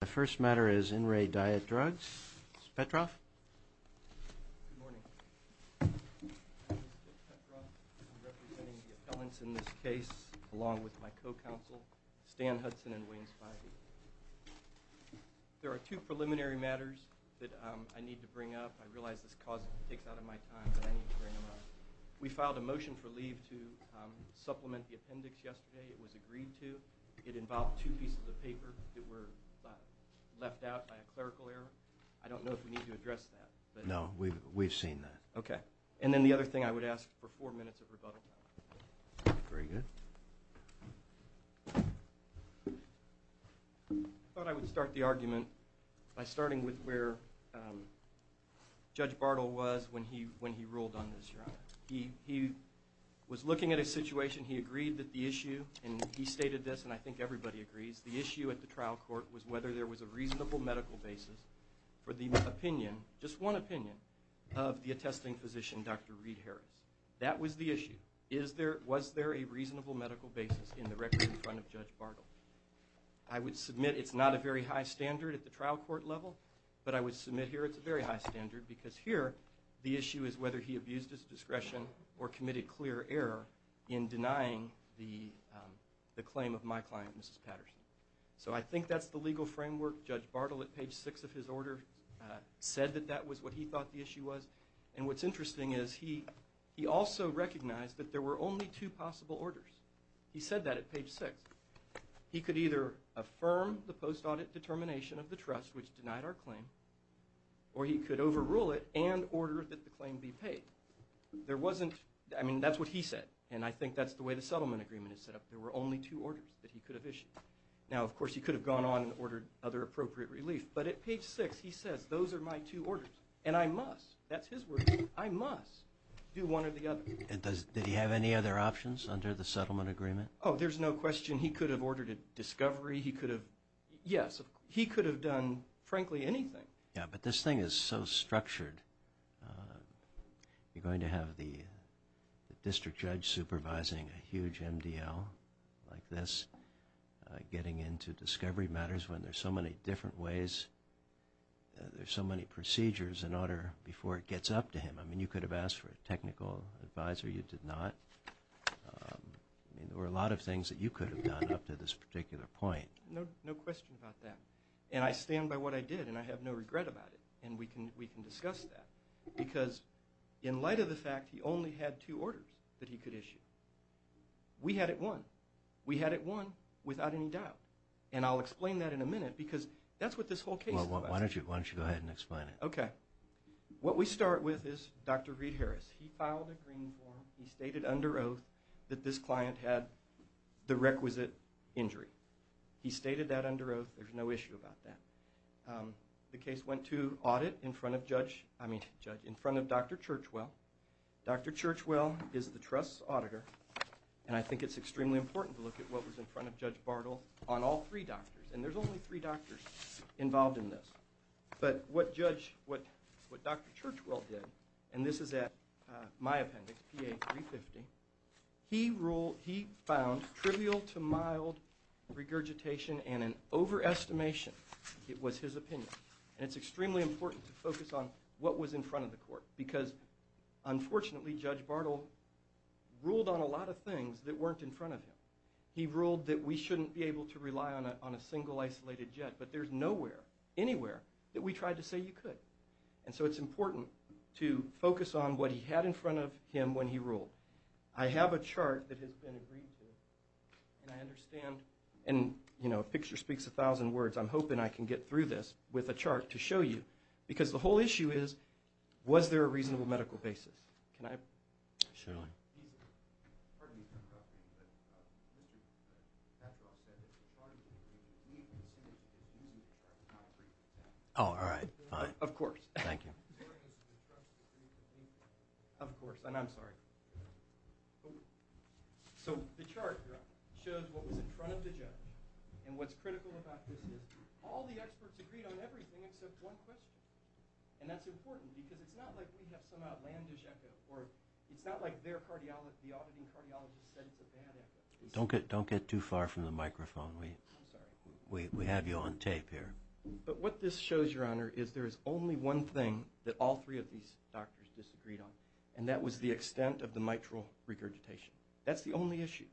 The first matter is In Re Diet Drugs. Mr. Petroff? Good morning. I'm Mr. Petroff. I'm representing the appellants in this case, along with my co-counsel, Stan Hudson and Wayne Spivey. There are two preliminary matters that I need to bring up. I realize this takes out of my time, but I need to bring them up. We filed a motion for leave to supplement the appendix yesterday. It was agreed to. It involved two pieces of paper that were left out by a clerical error. I don't know if we need to address that. No. We've seen that. Okay. And then the other thing I would ask for four minutes of rebuttal time. Very good. I thought I would start the argument by starting with where Judge Bartle was when he ruled on this, Your Honor. He was looking at a situation. He agreed that the issue, and he stated this and I think everybody agrees, the issue at the trial court was whether there was a reasonable medical basis for the opinion, just one opinion, of the attesting physician, Dr. Reed Harris. That was the issue. Was there a reasonable medical basis in the record in front of Judge Bartle? I would submit it's not a very high standard at the trial court level, but I would submit here it's a very high standard. Because here, the issue is whether he abused his discretion or committed clear error in denying the claim of my client, Mrs. Patterson. So I think that's the legal framework. Judge Bartle, at page six of his order, said that that was what he thought the issue was. And what's interesting is he also recognized that there were only two possible orders. He said that at page six. He could either affirm the post-audit determination of the trust, which denied our claim, or he could overrule it and order that the claim be paid. There wasn't, I mean, that's what he said, and I think that's the way the settlement agreement is set up. There were only two orders that he could have issued. Now of course he could have gone on and ordered other appropriate relief, but at page six he says, those are my two orders, and I must, that's his word, I must do one or the other. And does, did he have any other options under the settlement agreement? Oh, there's no question he could have ordered a discovery, he could have, yes, he could have done, frankly, anything. Yeah, but this thing is so structured. You're going to have the district judge supervising a huge MDL like this, getting into discovery matters when there's so many different ways, there's so many procedures in order before it gets up to him. I mean, you could have asked for a technical advisor, you did not. I mean, there were a lot of things that you could have done up to this particular point. No question about that. And I stand by what I did, and I have no regret about it, and we can discuss that. Because in light of the fact he only had two orders that he could issue, we had it won. We had it won, without any doubt. And I'll explain that in a minute, because that's what this whole case is about. Well, why don't you go ahead and explain it. Okay. What we start with is Dr. Reed Harris, he filed a green form, he stated under oath that this client had the requisite injury. He stated that under oath, there's no issue about that. The case went to audit in front of Judge, I mean, Judge, in front of Dr. Churchwell. Dr. Churchwell is the trust's auditor, and I think it's extremely important to look at what was in front of Judge Bartle on all three doctors, and there's only three doctors involved in this. But what Judge, what Dr. Churchwell did, and this is at my appendix, PA 350, he ruled, on trivial to mild regurgitation and an overestimation, it was his opinion. And it's extremely important to focus on what was in front of the court, because unfortunately Judge Bartle ruled on a lot of things that weren't in front of him. He ruled that we shouldn't be able to rely on a single isolated jet, but there's nowhere, anywhere that we tried to say you could. And so it's important to focus on what he had in front of him when he ruled. I have a chart that has been agreed to, and I understand, and, you know, a picture speaks a thousand words. I'm hoping I can get through this with a chart to show you. Because the whole issue is, was there a reasonable medical basis? Can I? Sure. Pardon me for interrupting, but Richard Cattrall said that the chart would be, we considered an easy chart, not a free chart. Oh, all right. Fine. Of course. Thank you. Sorry, this is a structural issue. Of course. And I'm sorry. So the chart shows what was in front of the judge. And what's critical about this is, all the experts agreed on everything except one question. And that's important, because it's not like we have some outlandish echo, or it's not like their cardiologist, the auditing cardiologist said it's a bad echo. Don't get too far from the microphone. I'm sorry. We have you on tape here. But what this shows, Your Honor, is there is only one thing that all three of these doctors disagreed on, and that was the extent of the mitral regurgitation. That's the only issue.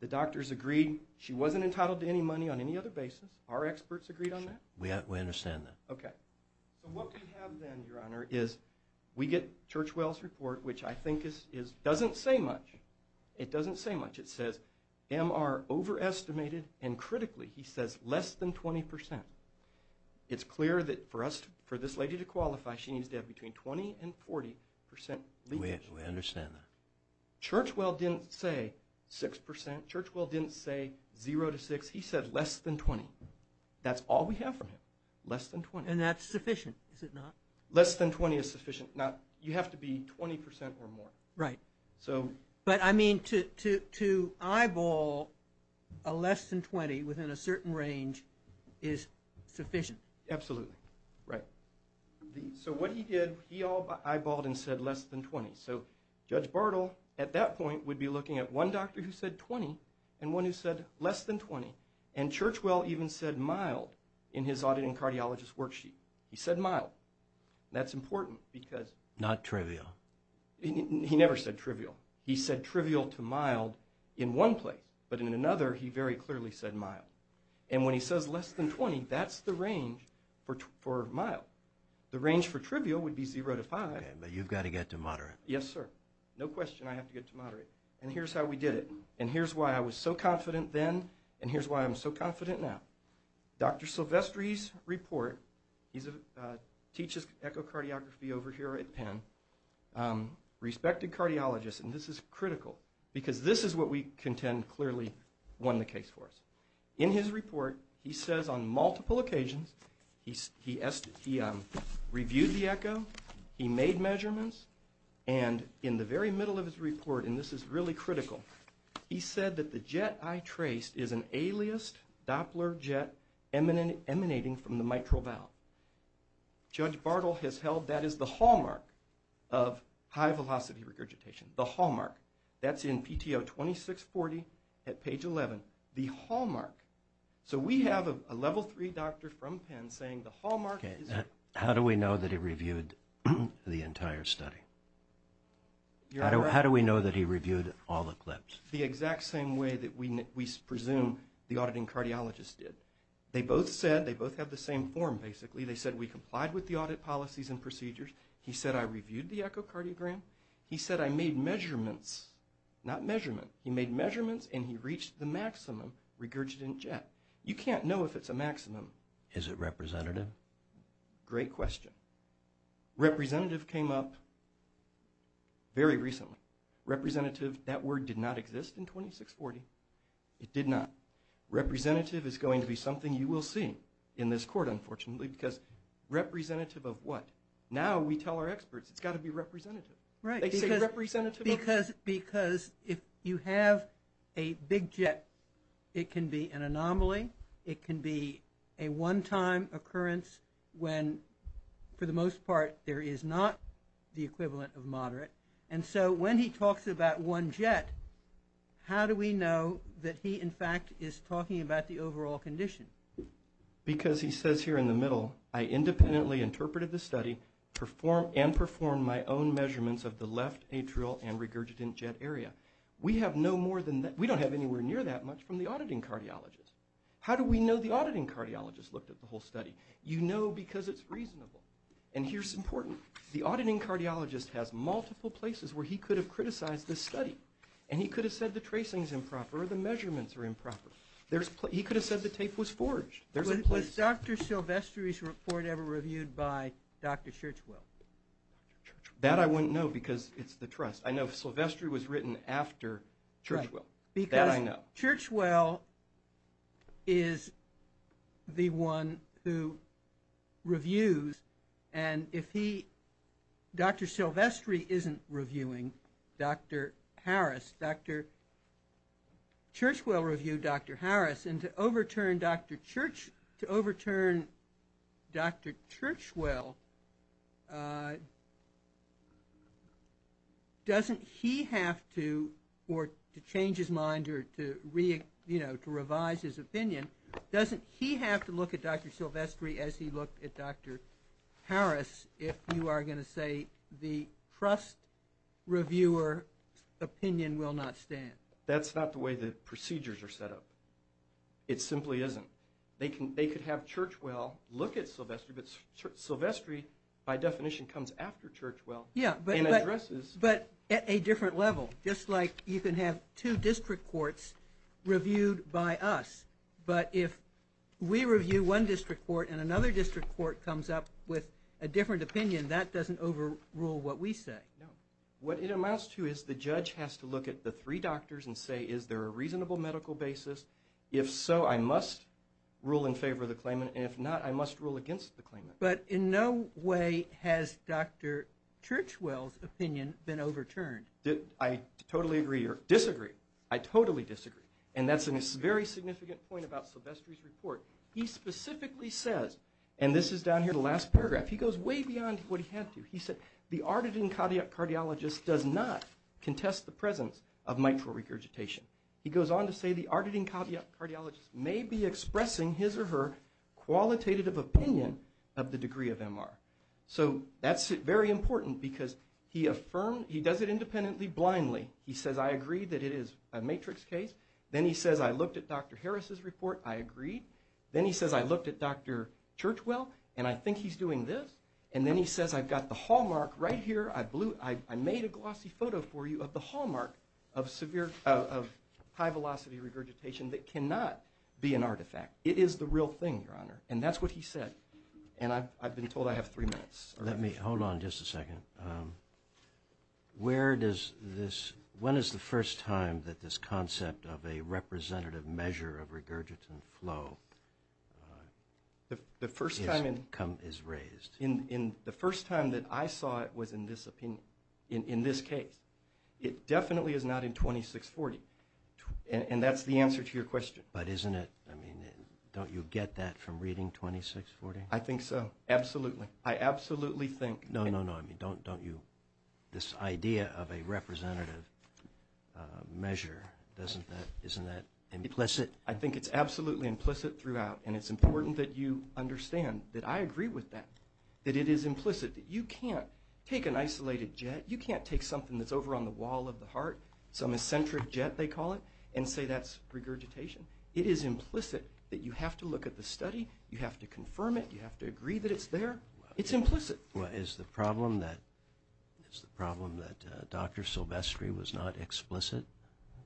The doctors agreed she wasn't entitled to any money on any other basis. Our experts agreed on that. We understand that. Okay. So what we have then, Your Honor, is we get Churchwell's report, which I think doesn't say much. It doesn't say much. It says, MR overestimated, and critically, he says less than 20%. It's clear that for this lady to qualify, she needs to have between 20% and 40% leadership. We understand that. Churchwell didn't say 6%. Churchwell didn't say 0 to 6%. He said less than 20%. That's all we have from him, less than 20%. And that's sufficient, is it not? Less than 20% is sufficient. Now, you have to be 20% or more. Right. But I mean, to eyeball a less than 20% within a certain range is sufficient. Absolutely. Right. So what he did, he all eyeballed and said less than 20%. So Judge Bartle, at that point, would be looking at one doctor who said 20% and one who said less than 20%. And Churchwell even said mild in his auditing cardiologist worksheet. He said mild. That's important because... Not trivial. He never said trivial. He said trivial to mild in one place. But in another, he very clearly said mild. And when he says less than 20%, that's the range for mild. The range for trivial would be 0 to 5%. But you've got to get to moderate. Yes, sir. No question I have to get to moderate. And here's how we did it. And here's why I was so confident then. And here's why I'm so confident now. Dr. Silvestri's report, he teaches echocardiography over here at Penn. Respected cardiologist, and this is critical because this is what we contend clearly won the case for us. In his report, he says on multiple occasions, he reviewed the echo. He made measurements. And in the very middle of his report, and this is really critical, he said that the jet I traced is an aliased Doppler jet emanating from the mitral valve. Judge Bartle has held that is the hallmark of high-velocity regurgitation. The hallmark. That's in PTO 2640 at page 11. The hallmark. So we have a level three doctor from Penn saying the hallmark is... How do we know that he reviewed the entire study? How do we know that he reviewed all the clips? The exact same way that we presume the auditing cardiologist did. They both said, they both have the same form, basically. They said, we complied with the audit policies and procedures. He said, I reviewed the echocardiogram. He said, I made measurements. Not measurement. He made measurements, and he reached the maximum regurgitant jet. You can't know if it's a maximum. Is it representative? Great question. Representative came up very recently. Representative, that word did not exist in 2640. It did not. Representative is going to be something you will see in this court, unfortunately, because representative of what? Now we tell our experts it's got to be representative. Right. Because if you have a big jet, it can be an anomaly. It can be a one-time occurrence when, for the most part, there is not the equivalent of moderate. And so when he talks about one jet, how do we know that he, in fact, is talking about the overall condition? Because he says here in the middle, I independently interpreted the study and performed my own measurements of the left atrial and regurgitant jet area. We have no more than that. We don't have anywhere near that much from the auditing cardiologist. How do we know the auditing cardiologist looked at the whole study? You know because it's reasonable. And here's important. The auditing cardiologist has multiple places where he could have criticized this study, and he could have said the tracing is improper or the measurements are improper. He could have said the tape was forged. Was Dr. Silvestri's report ever reviewed by Dr. Churchwell? That I wouldn't know because it's the trust. I know if Silvestri was written after Churchwell. That I know. Because Churchwell is the one who reviews, and if he, Dr. Silvestri isn't reviewing Dr. Harris. Churchwell reviewed Dr. Harris, and to overturn Dr. Churchwell doesn't he have to, or to change his mind or to revise his opinion, doesn't he have to look at Dr. Silvestri as he looked at Dr. Harris if you are going to say the trust reviewer opinion will not stand? That's not the way the procedures are set up. It simply isn't. They could have Churchwell look at Silvestri, but Silvestri by definition comes after Churchwell. Yeah, but at a different level. Just like you can have two district courts reviewed by us, but if we review one district court and another district court comes up with a different opinion, that doesn't overrule what we say. No. What it amounts to is the judge has to look at the three doctors and say is there a reasonable medical basis. If so, I must rule in favor of the claimant, and if not, I must rule against the claimant. But in no way has Dr. Churchwell's opinion been overturned. I totally agree or disagree. I totally disagree. And that's a very significant point about Silvestri's report. He specifically says, and this is down here in the last paragraph, he goes way beyond what he had to. He said, the arditing cardiologist does not contest the presence of mitral regurgitation. He goes on to say the arditing cardiologist may be expressing his or her qualitative opinion of the degree of MR. So that's very important because he does it independently, blindly. He says, I agree that it is a matrix case. Then he says, I looked at Dr. Harris's report. I agreed. Then he says, I looked at Dr. Churchwell, and I think he's doing this. And then he says, I've got the hallmark right here. I made a glossy photo for you of the hallmark of high-velocity regurgitation that cannot be an artifact. It is the real thing, Your Honor, and that's what he said. And I've been told I have three minutes. Hold on just a second. When is the first time that this concept of a representative measure of regurgitant flow is raised? The first time that I saw it was in this opinion, in this case. It definitely is not in 2640, and that's the answer to your question. But isn't it, I mean, don't you get that from reading 2640? I think so. Absolutely. I absolutely think. No, no, no. I mean, don't you, this idea of a representative measure, isn't that implicit? I think it's absolutely implicit throughout, and it's important that you understand that I agree with that, that it is implicit, that you can't take an isolated jet, you can't take something that's over on the wall of the heart, some eccentric jet, they call it, and say that's regurgitation. It is implicit that you have to look at the study, you have to confirm it, you have to agree that it's there. It's implicit. Well, is the problem that Dr. Silvestri was not explicit,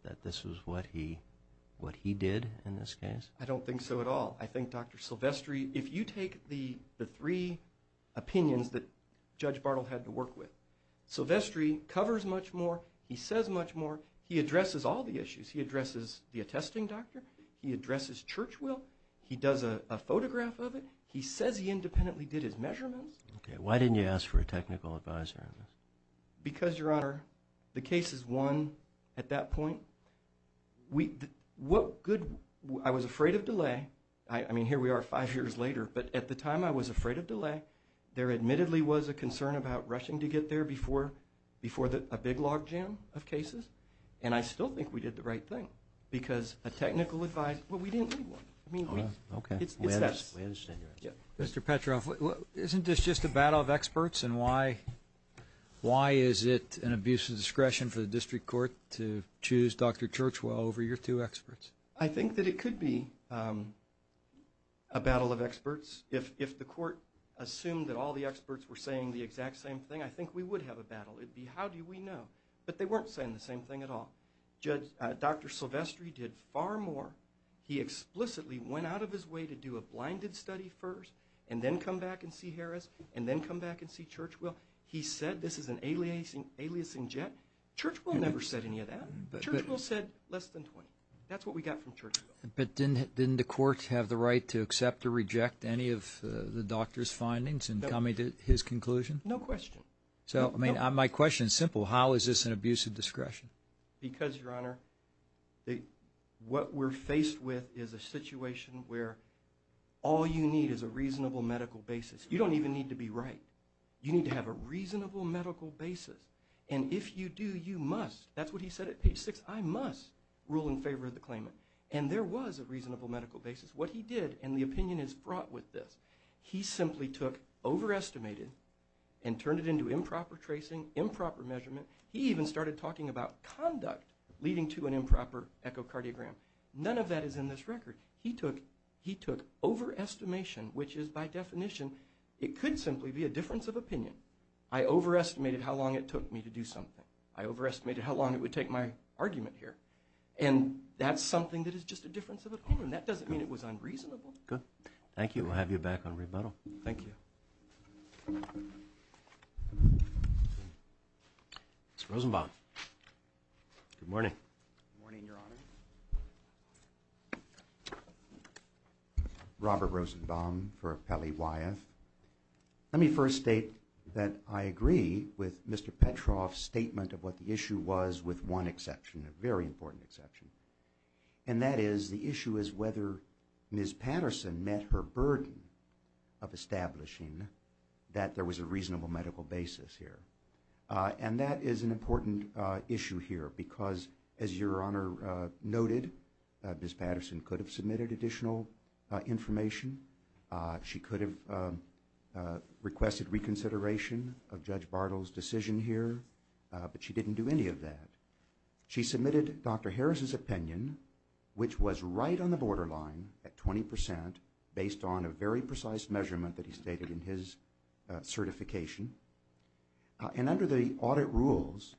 that this was what he did in this case? I don't think so at all. I think Dr. Silvestri, if you take the three opinions that Judge Bartle had to work with, Silvestri covers much more, he says much more, he addresses all the issues. He addresses the attesting doctor, he addresses church will, he does a photograph of it, he says he independently did his measurements. Okay. Why didn't you ask for a technical advisor on this? Because, Your Honor, the case is won at that point. I was afraid of delay. I mean, here we are five years later, but at the time I was afraid of delay, there admittedly was a concern about rushing to get there before a big log jam of cases, and I still think we did the right thing because a technical advisor, well, we didn't need one. Okay. We understand your answer. Mr. Petroff, isn't this just a battle of experts, and why is it an abuse of discretion for the district court to choose Dr. Churchwell over your two experts? I think that it could be a battle of experts if the court assumed that all the experts were saying the exact same thing. I think we would have a battle. It would be, how do we know? But they weren't saying the same thing at all. Dr. Silvestri did far more. He explicitly went out of his way to do a blinded study first and then come back and see Harris and then come back and see Churchwell. He said this is an aliasing jet. Churchwell never said any of that. Churchwell said less than 20. That's what we got from Churchwell. But didn't the court have the right to accept or reject any of the doctor's findings in coming to his conclusion? No question. My question is simple. How is this an abuse of discretion? Because, Your Honor, what we're faced with is a situation where all you need is a reasonable medical basis. You don't even need to be right. You need to have a reasonable medical basis. And if you do, you must. That's what he said at page 6. I must rule in favor of the claimant. And there was a reasonable medical basis. What he did, and the opinion is fraught with this, he simply took overestimated and turned it into improper tracing, improper measurement. He even started talking about conduct leading to an improper echocardiogram. None of that is in this record. He took overestimation, which is by definition, it could simply be a difference of opinion. I overestimated how long it took me to do something. I overestimated how long it would take my argument here. And that's something that is just a difference of opinion. That doesn't mean it was unreasonable. Good. Thank you. We'll have you back on rebuttal. Thank you. Mr. Rosenbaum. Good morning. Good morning, Your Honor. Robert Rosenbaum for Appellee Wyeth. Let me first state that I agree with Mr. Petroff's statement of what the issue was, with one exception, a very important exception. And that is, the issue is whether Ms. Patterson met her burden of establishing that there was a reasonable medical basis here. And that is an important issue here because, as Your Honor noted, Ms. Patterson could have submitted additional information. She could have requested reconsideration of Judge Bartle's decision here. But she didn't do any of that. She submitted Dr. Harris's opinion, which was right on the borderline at 20%, based on a very precise measurement that he stated in his certification. And under the audit rules,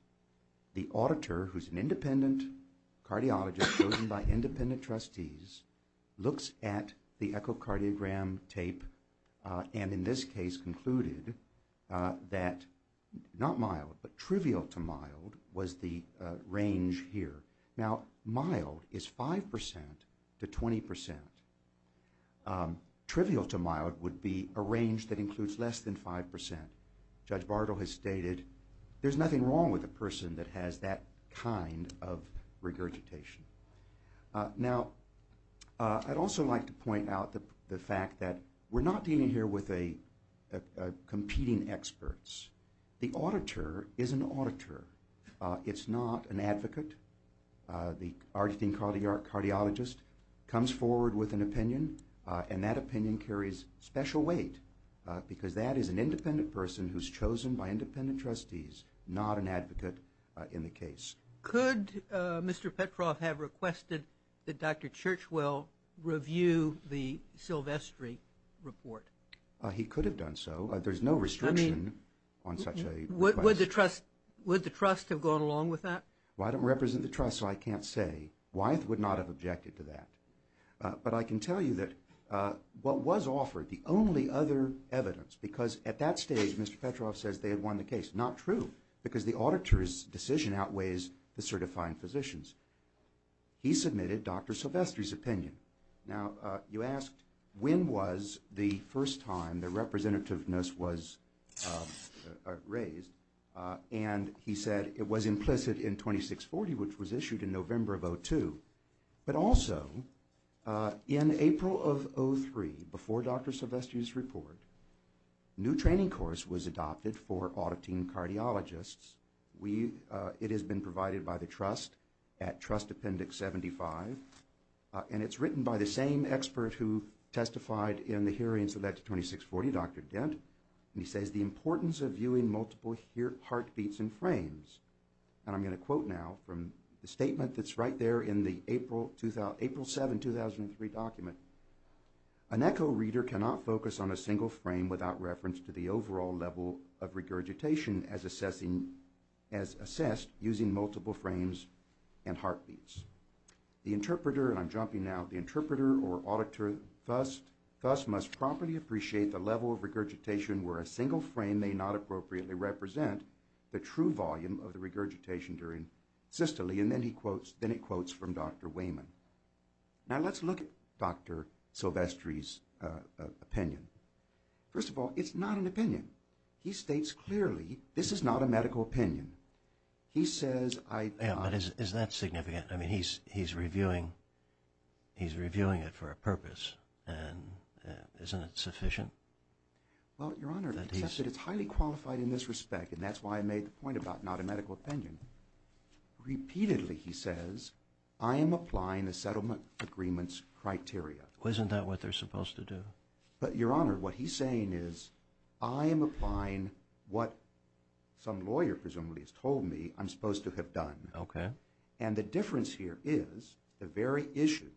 the auditor, who's an independent cardiologist chosen by independent trustees, looks at the echocardiogram tape and, in this case, concluded that not mild but trivial to mild was the range here. Now, mild is 5% to 20%. Trivial to mild would be a range that includes less than 5%. Judge Bartle has stated there's nothing wrong with a person that has that kind of regurgitation. Now, I'd also like to point out the fact that we're not dealing here with competing experts. The auditor is an auditor. It's not an advocate. The Argentine cardiologist comes forward with an opinion, and that opinion carries special weight because that is an independent person who's chosen by independent trustees, not an advocate in the case. Could Mr. Petroff have requested that Dr. Churchwell review the Silvestri report? He could have done so. There's no restriction on such a request. Would the trust have gone along with that? Well, I don't represent the trust, so I can't say. Wyeth would not have objected to that. But I can tell you that what was offered, the only other evidence, because at that stage, Mr. Petroff says they had won the case. Not true, because the auditor's decision outweighs the certifying physician's. He submitted Dr. Silvestri's opinion. Now, you asked when was the first time the representativeness was raised, and he said it was implicit in 2640, which was issued in November of 2002, but also in April of 2003, before Dr. Silvestri's report, a new training course was adopted for auditing cardiologists. It has been provided by the trust at Trust Appendix 75, and it's written by the same expert who testified in the hearings of that 2640, Dr. Dent, and he says the importance of viewing multiple heartbeats and frames. And I'm going to quote now from the statement that's right there in the April 7, 2003 document. An echo reader cannot focus on a single frame without reference to the overall level of regurgitation as assessed using multiple frames and heartbeats. The interpreter, and I'm jumping now, the interpreter or auditor thus must properly appreciate the level of regurgitation where a single frame may not appropriately represent the true volume of the regurgitation during systole, and then he quotes, then it quotes from Dr. Wayman. Now let's look at Dr. Silvestri's opinion. First of all, it's not an opinion. He states clearly this is not a medical opinion. He says I... Yeah, but is that significant? I mean, he's reviewing it for a purpose, and isn't it sufficient? Well, Your Honor, it's highly qualified in this respect, and that's why I made the point about not a medical opinion. Repeatedly he says I am applying the settlement agreement's criteria. Isn't that what they're supposed to do? But, Your Honor, what he's saying is I am applying what some lawyer presumably has told me I'm supposed to have done. Okay. And the difference here is the very issue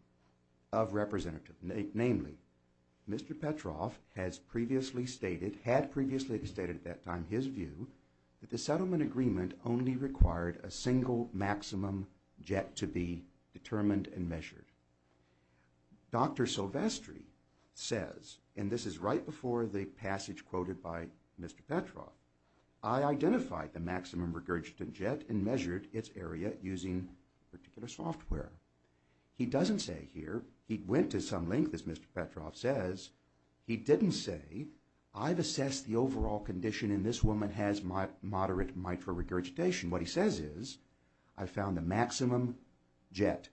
of representative, namely Mr. Petroff has previously stated, had previously stated at that time his view that the settlement agreement only required a single maximum jet to be determined and measured. Dr. Silvestri says, and this is right before the passage quoted by Mr. Petroff, I identified the maximum regurgitant jet and measured its area using particular software. He doesn't say here he went to some length, as Mr. Petroff says. He didn't say I've assessed the overall condition, and this woman has moderate mitral regurgitation. What he says is I found the maximum jet.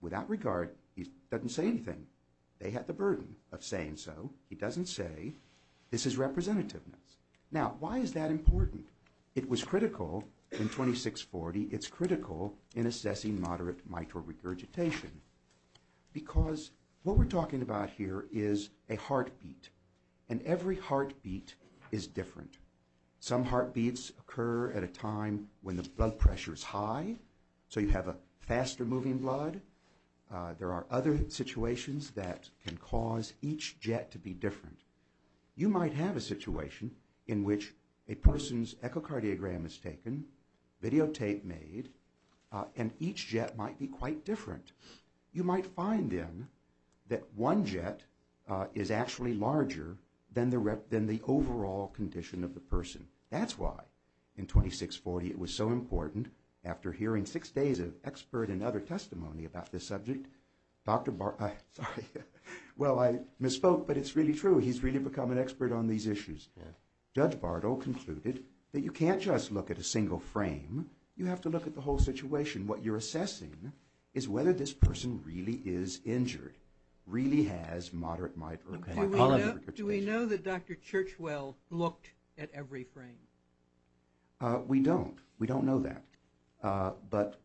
Without regard, he doesn't say anything. They had the burden of saying so. He doesn't say this is representativeness. Now, why is that important? It was critical in 2640. It's critical in assessing moderate mitral regurgitation. Because what we're talking about here is a heartbeat, and every heartbeat is different. Some heartbeats occur at a time when the blood pressure is high, so you have a faster moving blood. There are other situations that can cause each jet to be different. You might have a situation in which a person's echocardiogram is taken, videotape made, and each jet might be quite different. You might find, then, that one jet is actually larger than the overall condition of the person. That's why in 2640 it was so important. After hearing six days of expert and other testimony about this subject, Dr. Bartle—sorry. Well, I misspoke, but it's really true. He's really become an expert on these issues. Judge Bartle concluded that you can't just look at a single frame. You have to look at the whole situation. What you're assessing is whether this person really is injured, really has moderate mitral regurgitation. Do we know that Dr. Churchwell looked at every frame? We don't. We don't know that. But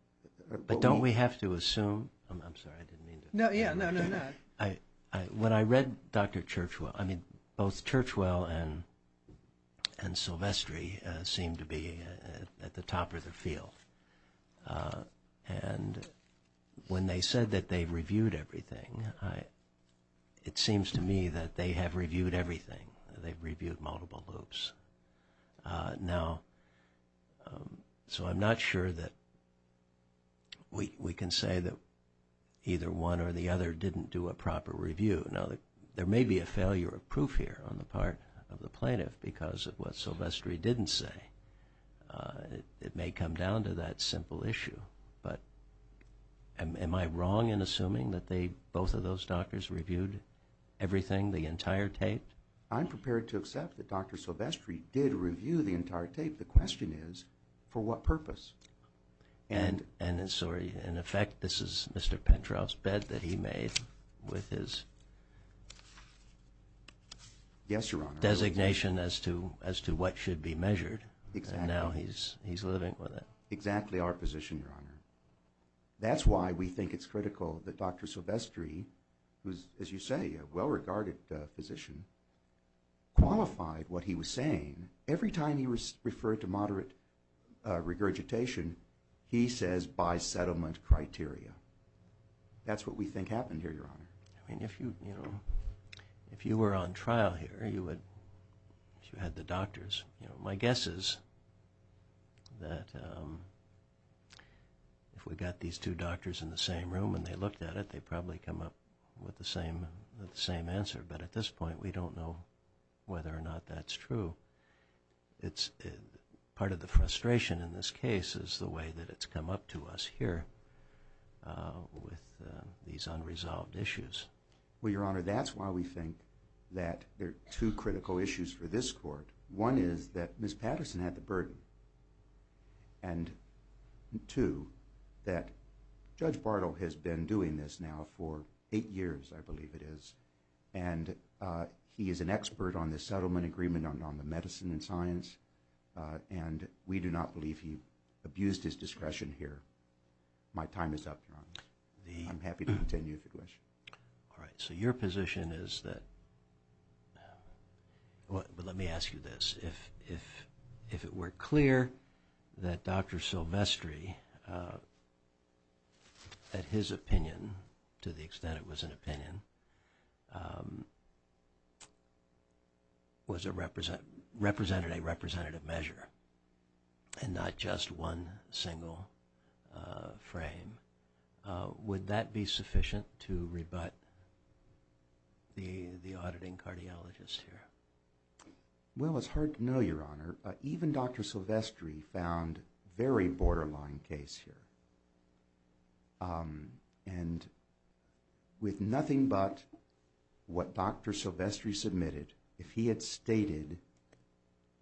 don't we have to assume—I'm sorry, I didn't mean to— No, yeah, no, no, no. When I read Dr. Churchwell—I mean, both Churchwell and Silvestri seemed to be at the top of their field. And when they said that they reviewed everything, it seems to me that they have reviewed everything. They've reviewed multiple loops. Now, so I'm not sure that we can say that either one or the other didn't do a proper review. Now, there may be a failure of proof here on the part of the plaintiff because of what Silvestri didn't say. It may come down to that simple issue. But am I wrong in assuming that both of those doctors reviewed everything, the entire tape? I'm prepared to accept that Dr. Silvestri did review the entire tape. The question is, for what purpose? And in effect, this is Mr. Pentroff's bed that he made with his designation as to what should be measured. And now he's living with it. Exactly our position, Your Honor. That's why we think it's critical that Dr. Silvestri, who's, as you say, a well-regarded physician, qualified what he was saying. Every time he referred to moderate regurgitation, he says, by settlement criteria. That's what we think happened here, Your Honor. If you were on trial here, if you had the doctors, my guess is that if we got these two doctors in the same room and they looked at it, they'd probably come up with the same answer. But at this point, we don't know whether or not that's true. Part of the frustration in this case is the way that it's come up to us here with these unresolved issues. Well, Your Honor, that's why we think that there are two critical issues for this court. One is that Ms. Patterson had the burden. And two, that Judge Bartle has been doing this now for eight years, I believe it is, and he is an expert on the settlement agreement on the medicine and science, and we do not believe he abused his discretion here. My time is up, Your Honor. I'm happy to continue if you wish. All right. So your position is that – well, let me ask you this. If it were clear that Dr. Silvestri, at his opinion, to the extent it was an opinion, represented a representative measure and not just one single frame, would that be sufficient to rebut the auditing cardiologist here? Well, it's hard to know, Your Honor. Even Dr. Silvestri found a very borderline case here. And with nothing but what Dr. Silvestri submitted, if he had stated,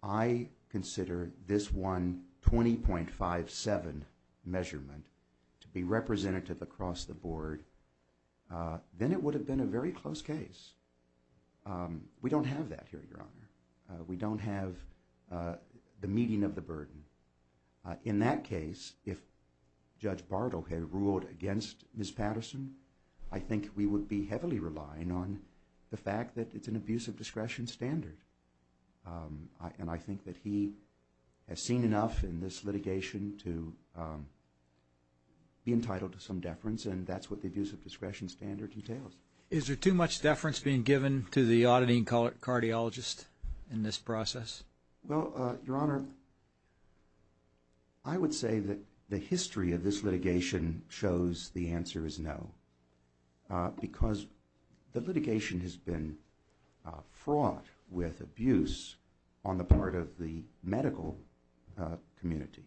I consider this one 20.57 measurement to be representative across the board, then it would have been a very close case. We don't have that here, Your Honor. We don't have the meeting of the burden. In that case, if Judge Bartle had ruled against Ms. Patterson, I think we would be heavily relying on the fact that it's an abuse of discretion standard. And I think that he has seen enough in this litigation to be entitled to some deference, and that's what the abuse of discretion standard entails. Is there too much deference being given to the auditing cardiologist in this process? Well, Your Honor, I would say that the history of this litigation shows the answer is no, because the litigation has been fraught with abuse on the part of the medical community.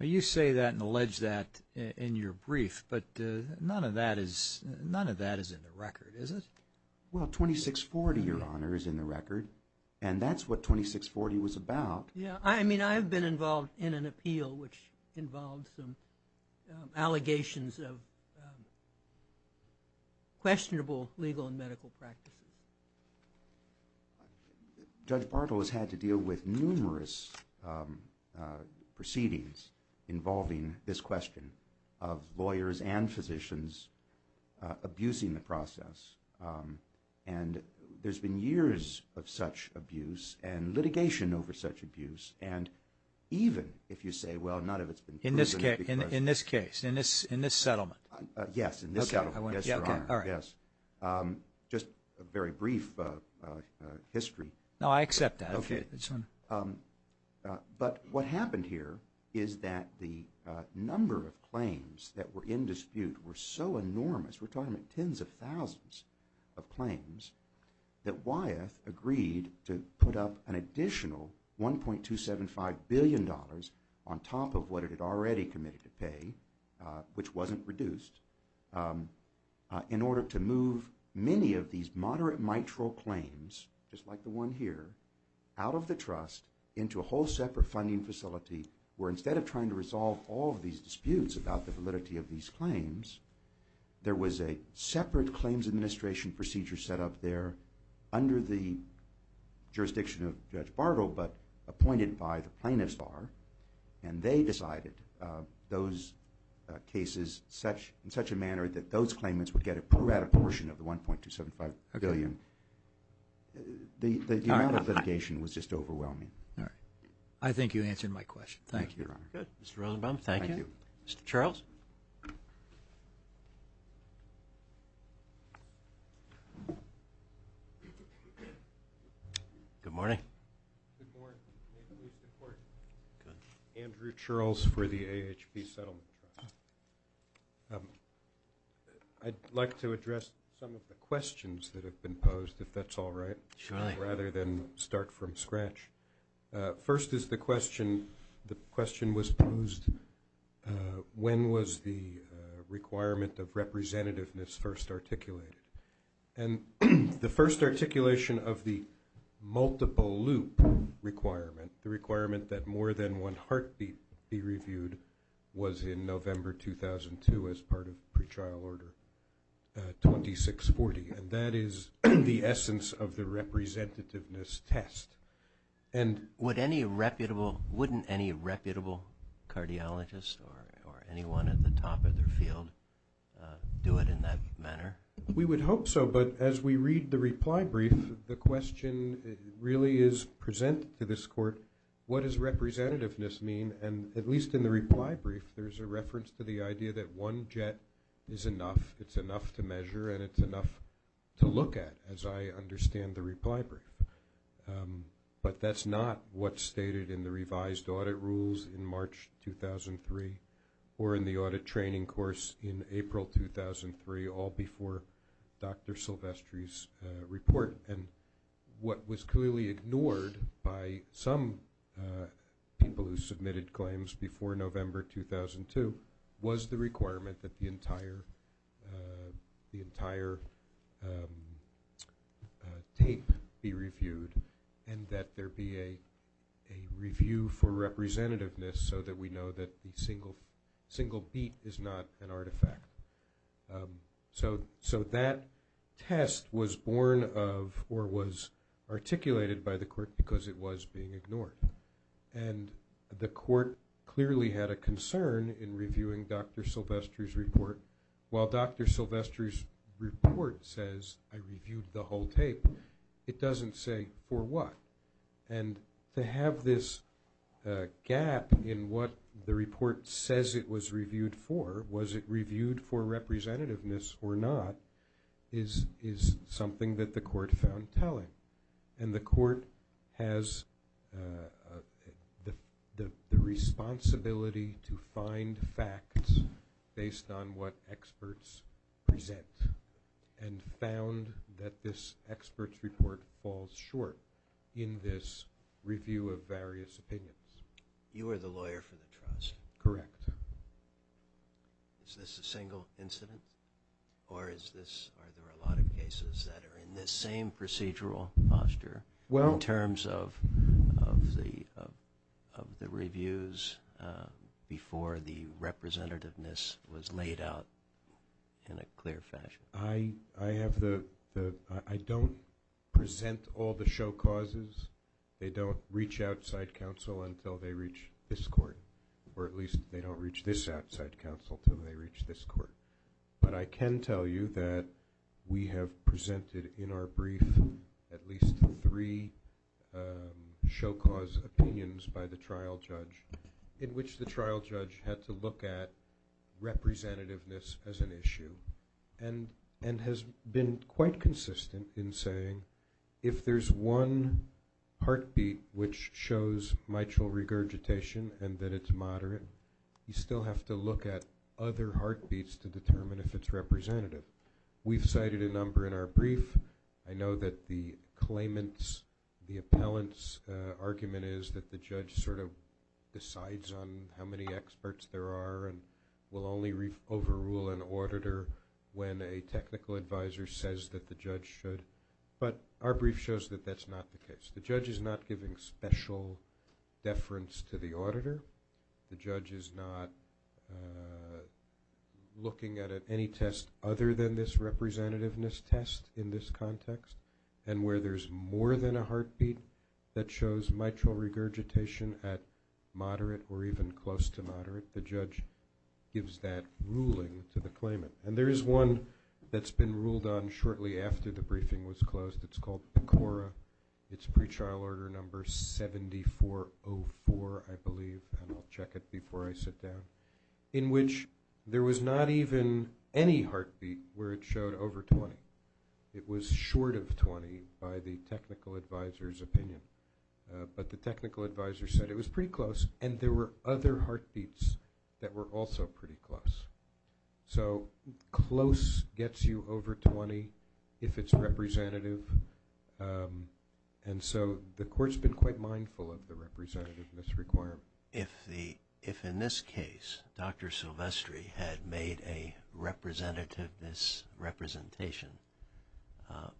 You say that and allege that in your brief, but none of that is in the record, is it? Well, 2640, Your Honor, is in the record, and that's what 2640 was about. Yeah, I mean, I've been involved in an appeal which involved some allegations of questionable legal and medical practices. Judge Bartle has had to deal with numerous proceedings involving this question of lawyers and physicians abusing the process, and there's been years of such abuse and litigation over such abuse, and even if you say, well, not if it's been proven. In this case, in this settlement? Yes, in this settlement, yes, Your Honor. All right. Just a very brief history. No, I accept that. Okay. But what happened here is that the number of claims that were in dispute were so enormous, we're talking about tens of thousands of claims, that Wyeth agreed to put up an additional $1.275 billion on top of what it had already committed to pay, which wasn't reduced, in order to move many of these moderate mitral claims, just like the one here, out of the trust into a whole separate funding facility where instead of trying to resolve all of these disputes about the validity of these claims, there was a separate claims administration procedure set up there under the jurisdiction of Judge Bartle but appointed by the plaintiff's bar, and they decided those cases in such a manner that those claimants would get a portion of the $1.275 billion. The amount of litigation was just overwhelming. All right. I think you answered my question. Thank you, Your Honor. Good. Mr. Rosenbaum, thank you. Thank you. Mr. Charles? Mr. Charles? Good morning. Good morning. Andrew Charles for the AHP Settlement Trust. I'd like to address some of the questions that have been posed, if that's all right. Sure. Rather than start from scratch. First is the question, the question was posed, when was the requirement of representativeness first articulated? And the first articulation of the multiple loop requirement, the requirement that more than one heartbeat be reviewed, was in November 2002 as part of pretrial order 2640, and that is the essence of the representativeness test. Wouldn't any reputable cardiologist or anyone at the top of their field do it in that manner? We would hope so, but as we read the reply brief, the question really is presented to this court, what does representativeness mean? And at least in the reply brief, there's a reference to the idea that one jet is enough, it's enough to measure, and it's enough to look at, as I understand the reply brief. But that's not what's stated in the revised audit rules in March 2003 or in the audit training course in April 2003, all before Dr. Silvestri's report. And what was clearly ignored by some people who submitted claims before November 2002 was the requirement that the entire tape be reviewed and that there be a review for representativeness so that we know that the single beat is not an artifact. So that test was born of or was articulated by the court because it was being ignored. And the court clearly had a concern in reviewing Dr. Silvestri's report. While Dr. Silvestri's report says, I reviewed the whole tape, it doesn't say for what. And to have this gap in what the report says it was reviewed for, was it reviewed for representativeness or not, is something that the court found telling. And the court has the responsibility to find facts based on what experts present and found that this experts report falls short in this review of various opinions. You are the lawyer for the trust. Correct. Is this a single incident or are there a lot of cases that are in this same procedural posture in terms of the reviews before the representativeness was laid out in a clear fashion? I don't present all the show causes. They don't reach outside counsel until they reach this court, or at least they don't reach this outside counsel until they reach this court. But I can tell you that we have presented in our brief at least three show cause opinions by the trial judge in which the trial judge had to look at representativeness as an issue and has been quite consistent in saying if there's one heartbeat which shows mitral regurgitation and that it's moderate, you still have to look at other heartbeats to determine if it's representative. We've cited a number in our brief. I know that the claimant's, the appellant's argument is that the judge sort of decides on how many experts there are and will only overrule an auditor when a technical advisor says that the judge should. But our brief shows that that's not the case. The judge is not giving special deference to the auditor. The judge is not looking at any test other than this representativeness test in this context, and where there's more than a heartbeat that shows mitral regurgitation at moderate or even close to moderate, the judge gives that ruling to the claimant. And there is one that's been ruled on shortly after the briefing was closed. It's called PCORA. It's pre-trial order number 7404, I believe, and I'll check it before I sit down, in which there was not even any heartbeat where it showed over 20. It was short of 20 by the technical advisor's opinion, but the technical advisor said it was pretty close, and there were other heartbeats that were also pretty close. So close gets you over 20 if it's representative, and so the court's been quite mindful of the representativeness requirement. If in this case Dr. Silvestri had made a representativeness representation,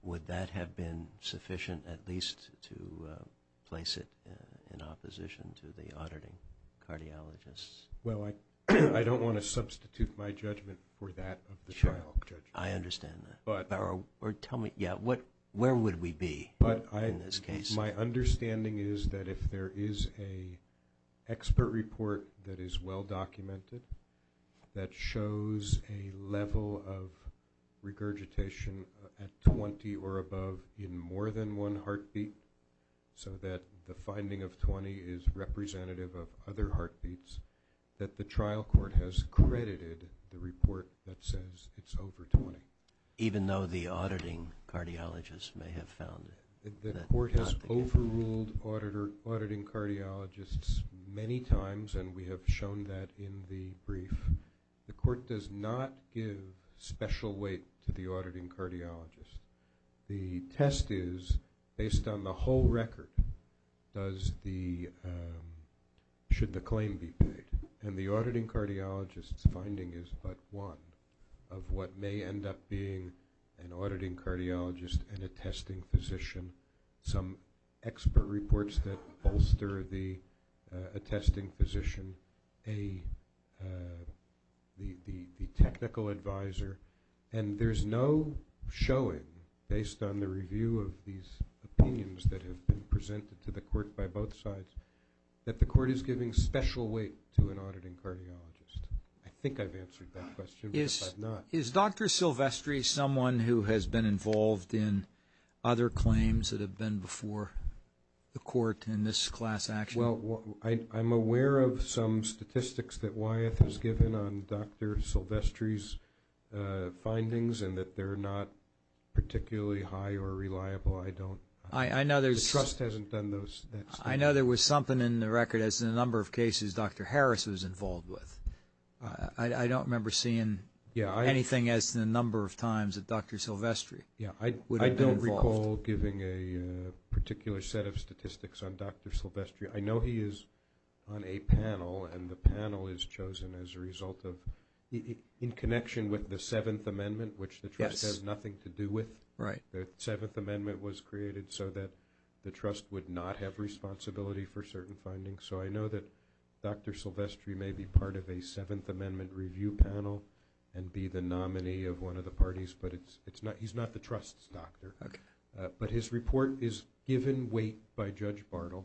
would that have been sufficient at least to place it in opposition to the auditing cardiologists? Well, I don't want to substitute my judgment for that of the trial judge. I understand that. Tell me, yeah, where would we be in this case? My understanding is that if there is an expert report that is well documented that shows a level of regurgitation at 20 or above in more than one heartbeat so that the finding of 20 is representative of other heartbeats, that the trial court has credited the report that says it's over 20. Even though the auditing cardiologists may have found it. The court has overruled auditing cardiologists many times, and we have shown that in the brief. The court does not give special weight to the auditing cardiologists. The test is based on the whole record should the claim be paid, and the auditing cardiologists' finding is but one of what may end up being an auditing cardiologist and a testing physician, some expert reports that bolster a testing physician, the technical advisor. And there's no showing, based on the review of these opinions that have been presented to the court by both sides, that the court is giving special weight to an auditing cardiologist. I think I've answered that question, but I've not. Is Dr. Silvestri someone who has been involved in other claims that have been before the court in this class action? Well, I'm aware of some statistics that Wyeth has given on Dr. Silvestri's findings and that they're not particularly high or reliable. I don't know. The trust hasn't done that study. I know there was something in the record, as in a number of cases, Dr. Harris was involved with. I don't remember seeing anything as to the number of times that Dr. Silvestri would have been involved. I don't recall giving a particular set of statistics on Dr. Silvestri. I know he is on a panel, and the panel is chosen as a result of, in connection with the Seventh Amendment, which the trust has nothing to do with. Right. The Seventh Amendment was created so that the trust would not have responsibility for certain findings. So I know that Dr. Silvestri may be part of a Seventh Amendment review panel and be the nominee of one of the parties, but he's not the trust's doctor. But his report is given weight by Judge Bartle.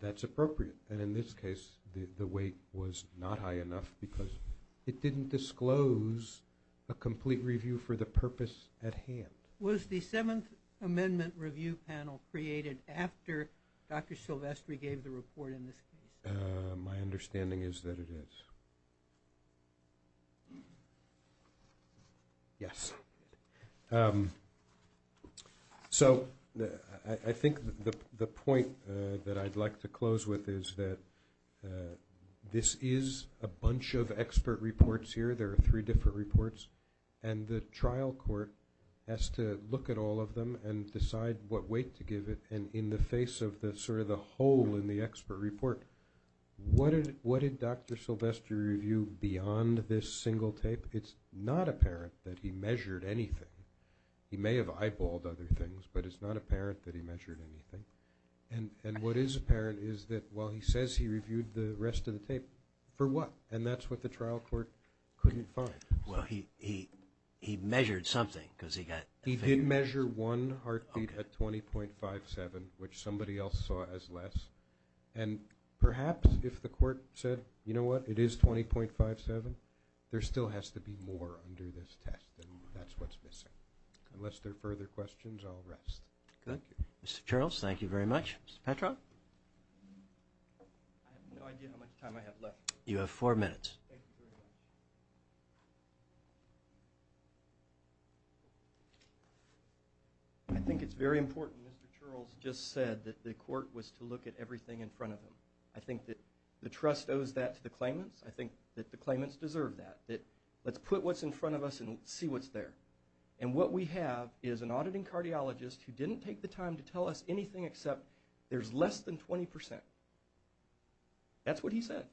That's appropriate. And in this case, the weight was not high enough because it didn't disclose a complete review for the purpose at hand. Was the Seventh Amendment review panel created after Dr. Silvestri gave the report in this case? My understanding is that it is. Yes. So I think the point that I'd like to close with is that this is a bunch of expert reports here. There are three different reports, and the trial court has to look at all of them and decide what weight to give it. And in the face of sort of the hole in the expert report, what did Dr. Silvestri review beyond this single tape? It's not apparent that he measured anything. He may have eyeballed other things, but it's not apparent that he measured anything. And what is apparent is that while he says he reviewed the rest of the tape, for what? And that's what the trial court couldn't find. Well, he measured something because he got a figure. He did measure one heartbeat at 20.57, which somebody else saw as less. And perhaps if the court said, you know what, it is 20.57, there still has to be more under this test, and that's what's missing. Unless there are further questions, I'll rest. Good. Mr. Charles, thank you very much. Mr. Petro? I have no idea how much time I have left. You have four minutes. Thank you very much. I think it's very important Mr. Charles just said that the court was to look at everything in front of him. I think that the trust owes that to the claimants. I think that the claimants deserve that, that let's put what's in front of us and see what's there. And what we have is an auditing cardiologist who didn't take the time to tell us anything except there's less than 20%. That's what he said.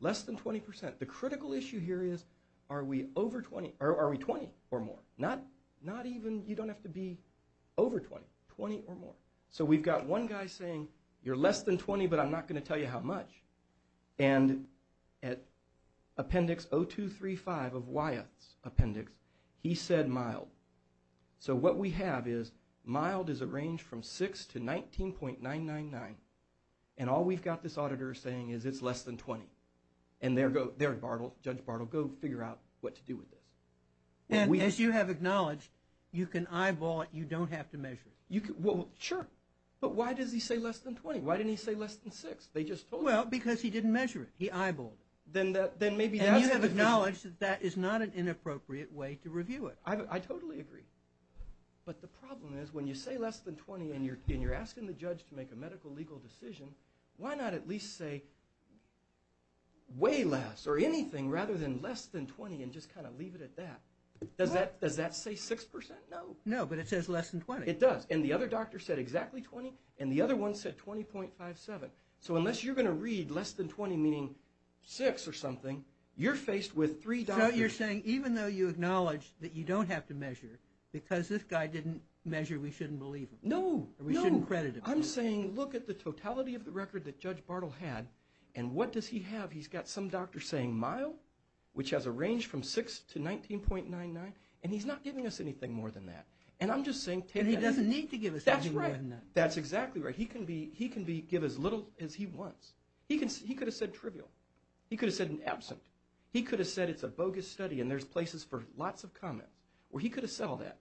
Less than 20%. The critical issue here is are we 20 or more? You don't have to be over 20, 20 or more. So we've got one guy saying, you're less than 20, but I'm not going to tell you how much. And at appendix 0235 of Wyatt's appendix, he said mild. So what we have is mild is a range from 6 to 19.999. And all we've got this auditor saying is it's less than 20. And Judge Bartle, go figure out what to do with this. And as you have acknowledged, you can eyeball it. You don't have to measure it. Well, sure. But why does he say less than 20? Why didn't he say less than 6? They just told him. Well, because he didn't measure it. He eyeballed it. And you have acknowledged that that is not an inappropriate way to review it. I totally agree. But the problem is when you say less than 20 and you're asking the judge to make a medical legal decision, why not at least say way less or anything rather than less than 20 and just kind of leave it at that? Does that say 6%? No. No, but it says less than 20. It does. And the other doctor said exactly 20, and the other one said 20.57. So unless you're going to read less than 20 meaning 6 or something, you're faced with three doctors. So you're saying even though you acknowledge that you don't have to measure because this guy didn't measure, we shouldn't believe him. No, no. Or we shouldn't credit him. I'm saying look at the totality of the record that Judge Bartle had, and what does he have? He's got some doctor saying mild, which has a range from 6 to 19.99, and he's not giving us anything more than that. And I'm just saying take that. And he doesn't need to give us anything more than that. That's right. That's exactly right. He can give as little as he wants. He could have said trivial. He could have said an absent. He could have said it's a bogus study, and there's places for lots of comments where he could have said all that.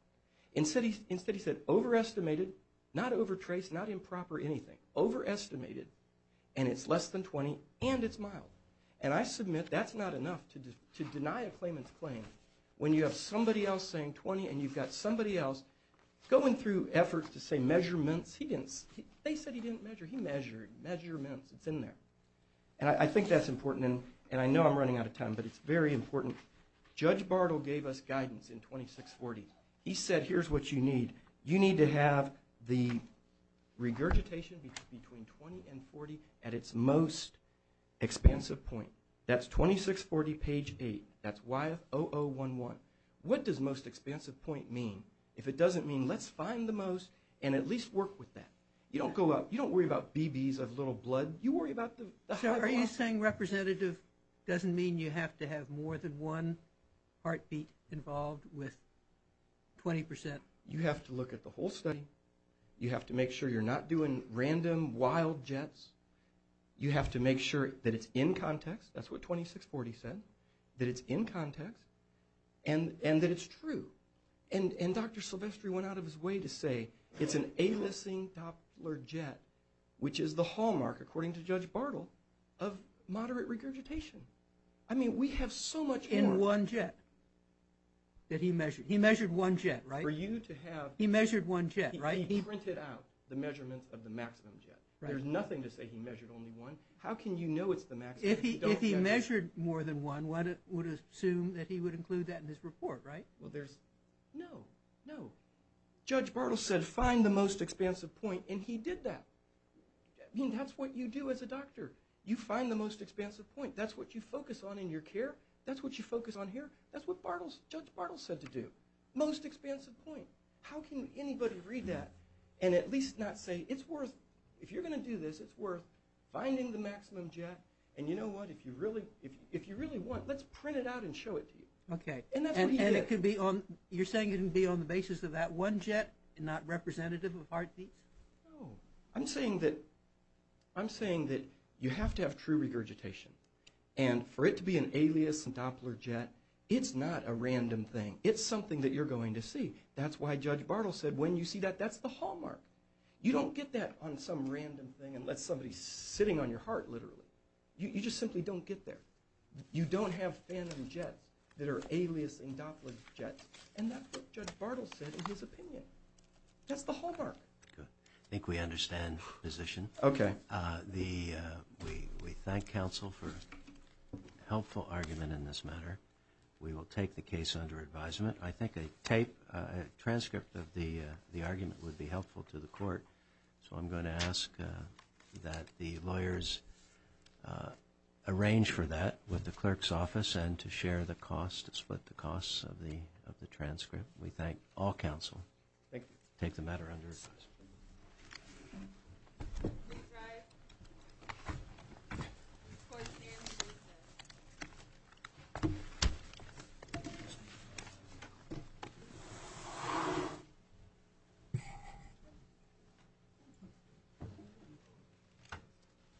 Instead he said overestimated, not overtraced, not improper anything. Overestimated, and it's less than 20, and it's mild. And I submit that's not enough to deny a claimant's claim when you have somebody else saying 20, and you've got somebody else going through efforts to say measurements. They said he didn't measure. He measured. Measurements. It's in there. And I think that's important, and I know I'm running out of time, but it's very important. Judge Bartle gave us guidance in 2640. He said here's what you need. You need to have the regurgitation between 20 and 40 at its most expansive point. That's 2640 page 8. That's YF0011. What does most expansive point mean? If it doesn't mean let's find the most and at least work with that. You don't go up. You don't worry about BBs of little blood. So are you saying representative doesn't mean you have to have more than one heartbeat involved with 20 percent? You have to look at the whole study. You have to make sure you're not doing random wild jets. You have to make sure that it's in context. That's what 2640 said, that it's in context and that it's true. And Dr. Silvestri went out of his way to say it's an a-listing Doppler jet, which is the hallmark, according to Judge Bartle, of moderate regurgitation. I mean we have so much more. In one jet that he measured. He measured one jet, right? For you to have. He measured one jet, right? He printed out the measurements of the maximum jet. There's nothing to say he measured only one. How can you know it's the maximum if you don't get it? If he measured more than one, one would assume that he would include that in his report, right? Well, there's no, no. Judge Bartle said find the most expansive point, and he did that. I mean that's what you do as a doctor. You find the most expansive point. That's what you focus on in your care. That's what you focus on here. That's what Judge Bartle said to do. Most expansive point. How can anybody read that and at least not say it's worth, if you're going to do this, it's worth finding the maximum jet, and you know what? If you really want, let's print it out and show it to you. Okay, and you're saying it can be on the basis of that one jet and not representative of heartbeats? No. I'm saying that you have to have true regurgitation, and for it to be an alias and Doppler jet, it's not a random thing. It's something that you're going to see. That's why Judge Bartle said when you see that, that's the hallmark. You don't get that on some random thing unless somebody's sitting on your heart, literally. You just simply don't get there. You don't have phantom jets that are aliasing Doppler jets, and that's what Judge Bartle said in his opinion. That's the hallmark. Good. I think we understand the position. Okay. We thank counsel for a helpful argument in this matter. We will take the case under advisement. I think a tape, a transcript of the argument would be helpful to the court, so I'm going to ask that the lawyers arrange for that with the clerk's office and to share the cost, to split the cost of the transcript. We thank all counsel. Thank you. Take the matter under advisement. Thank you.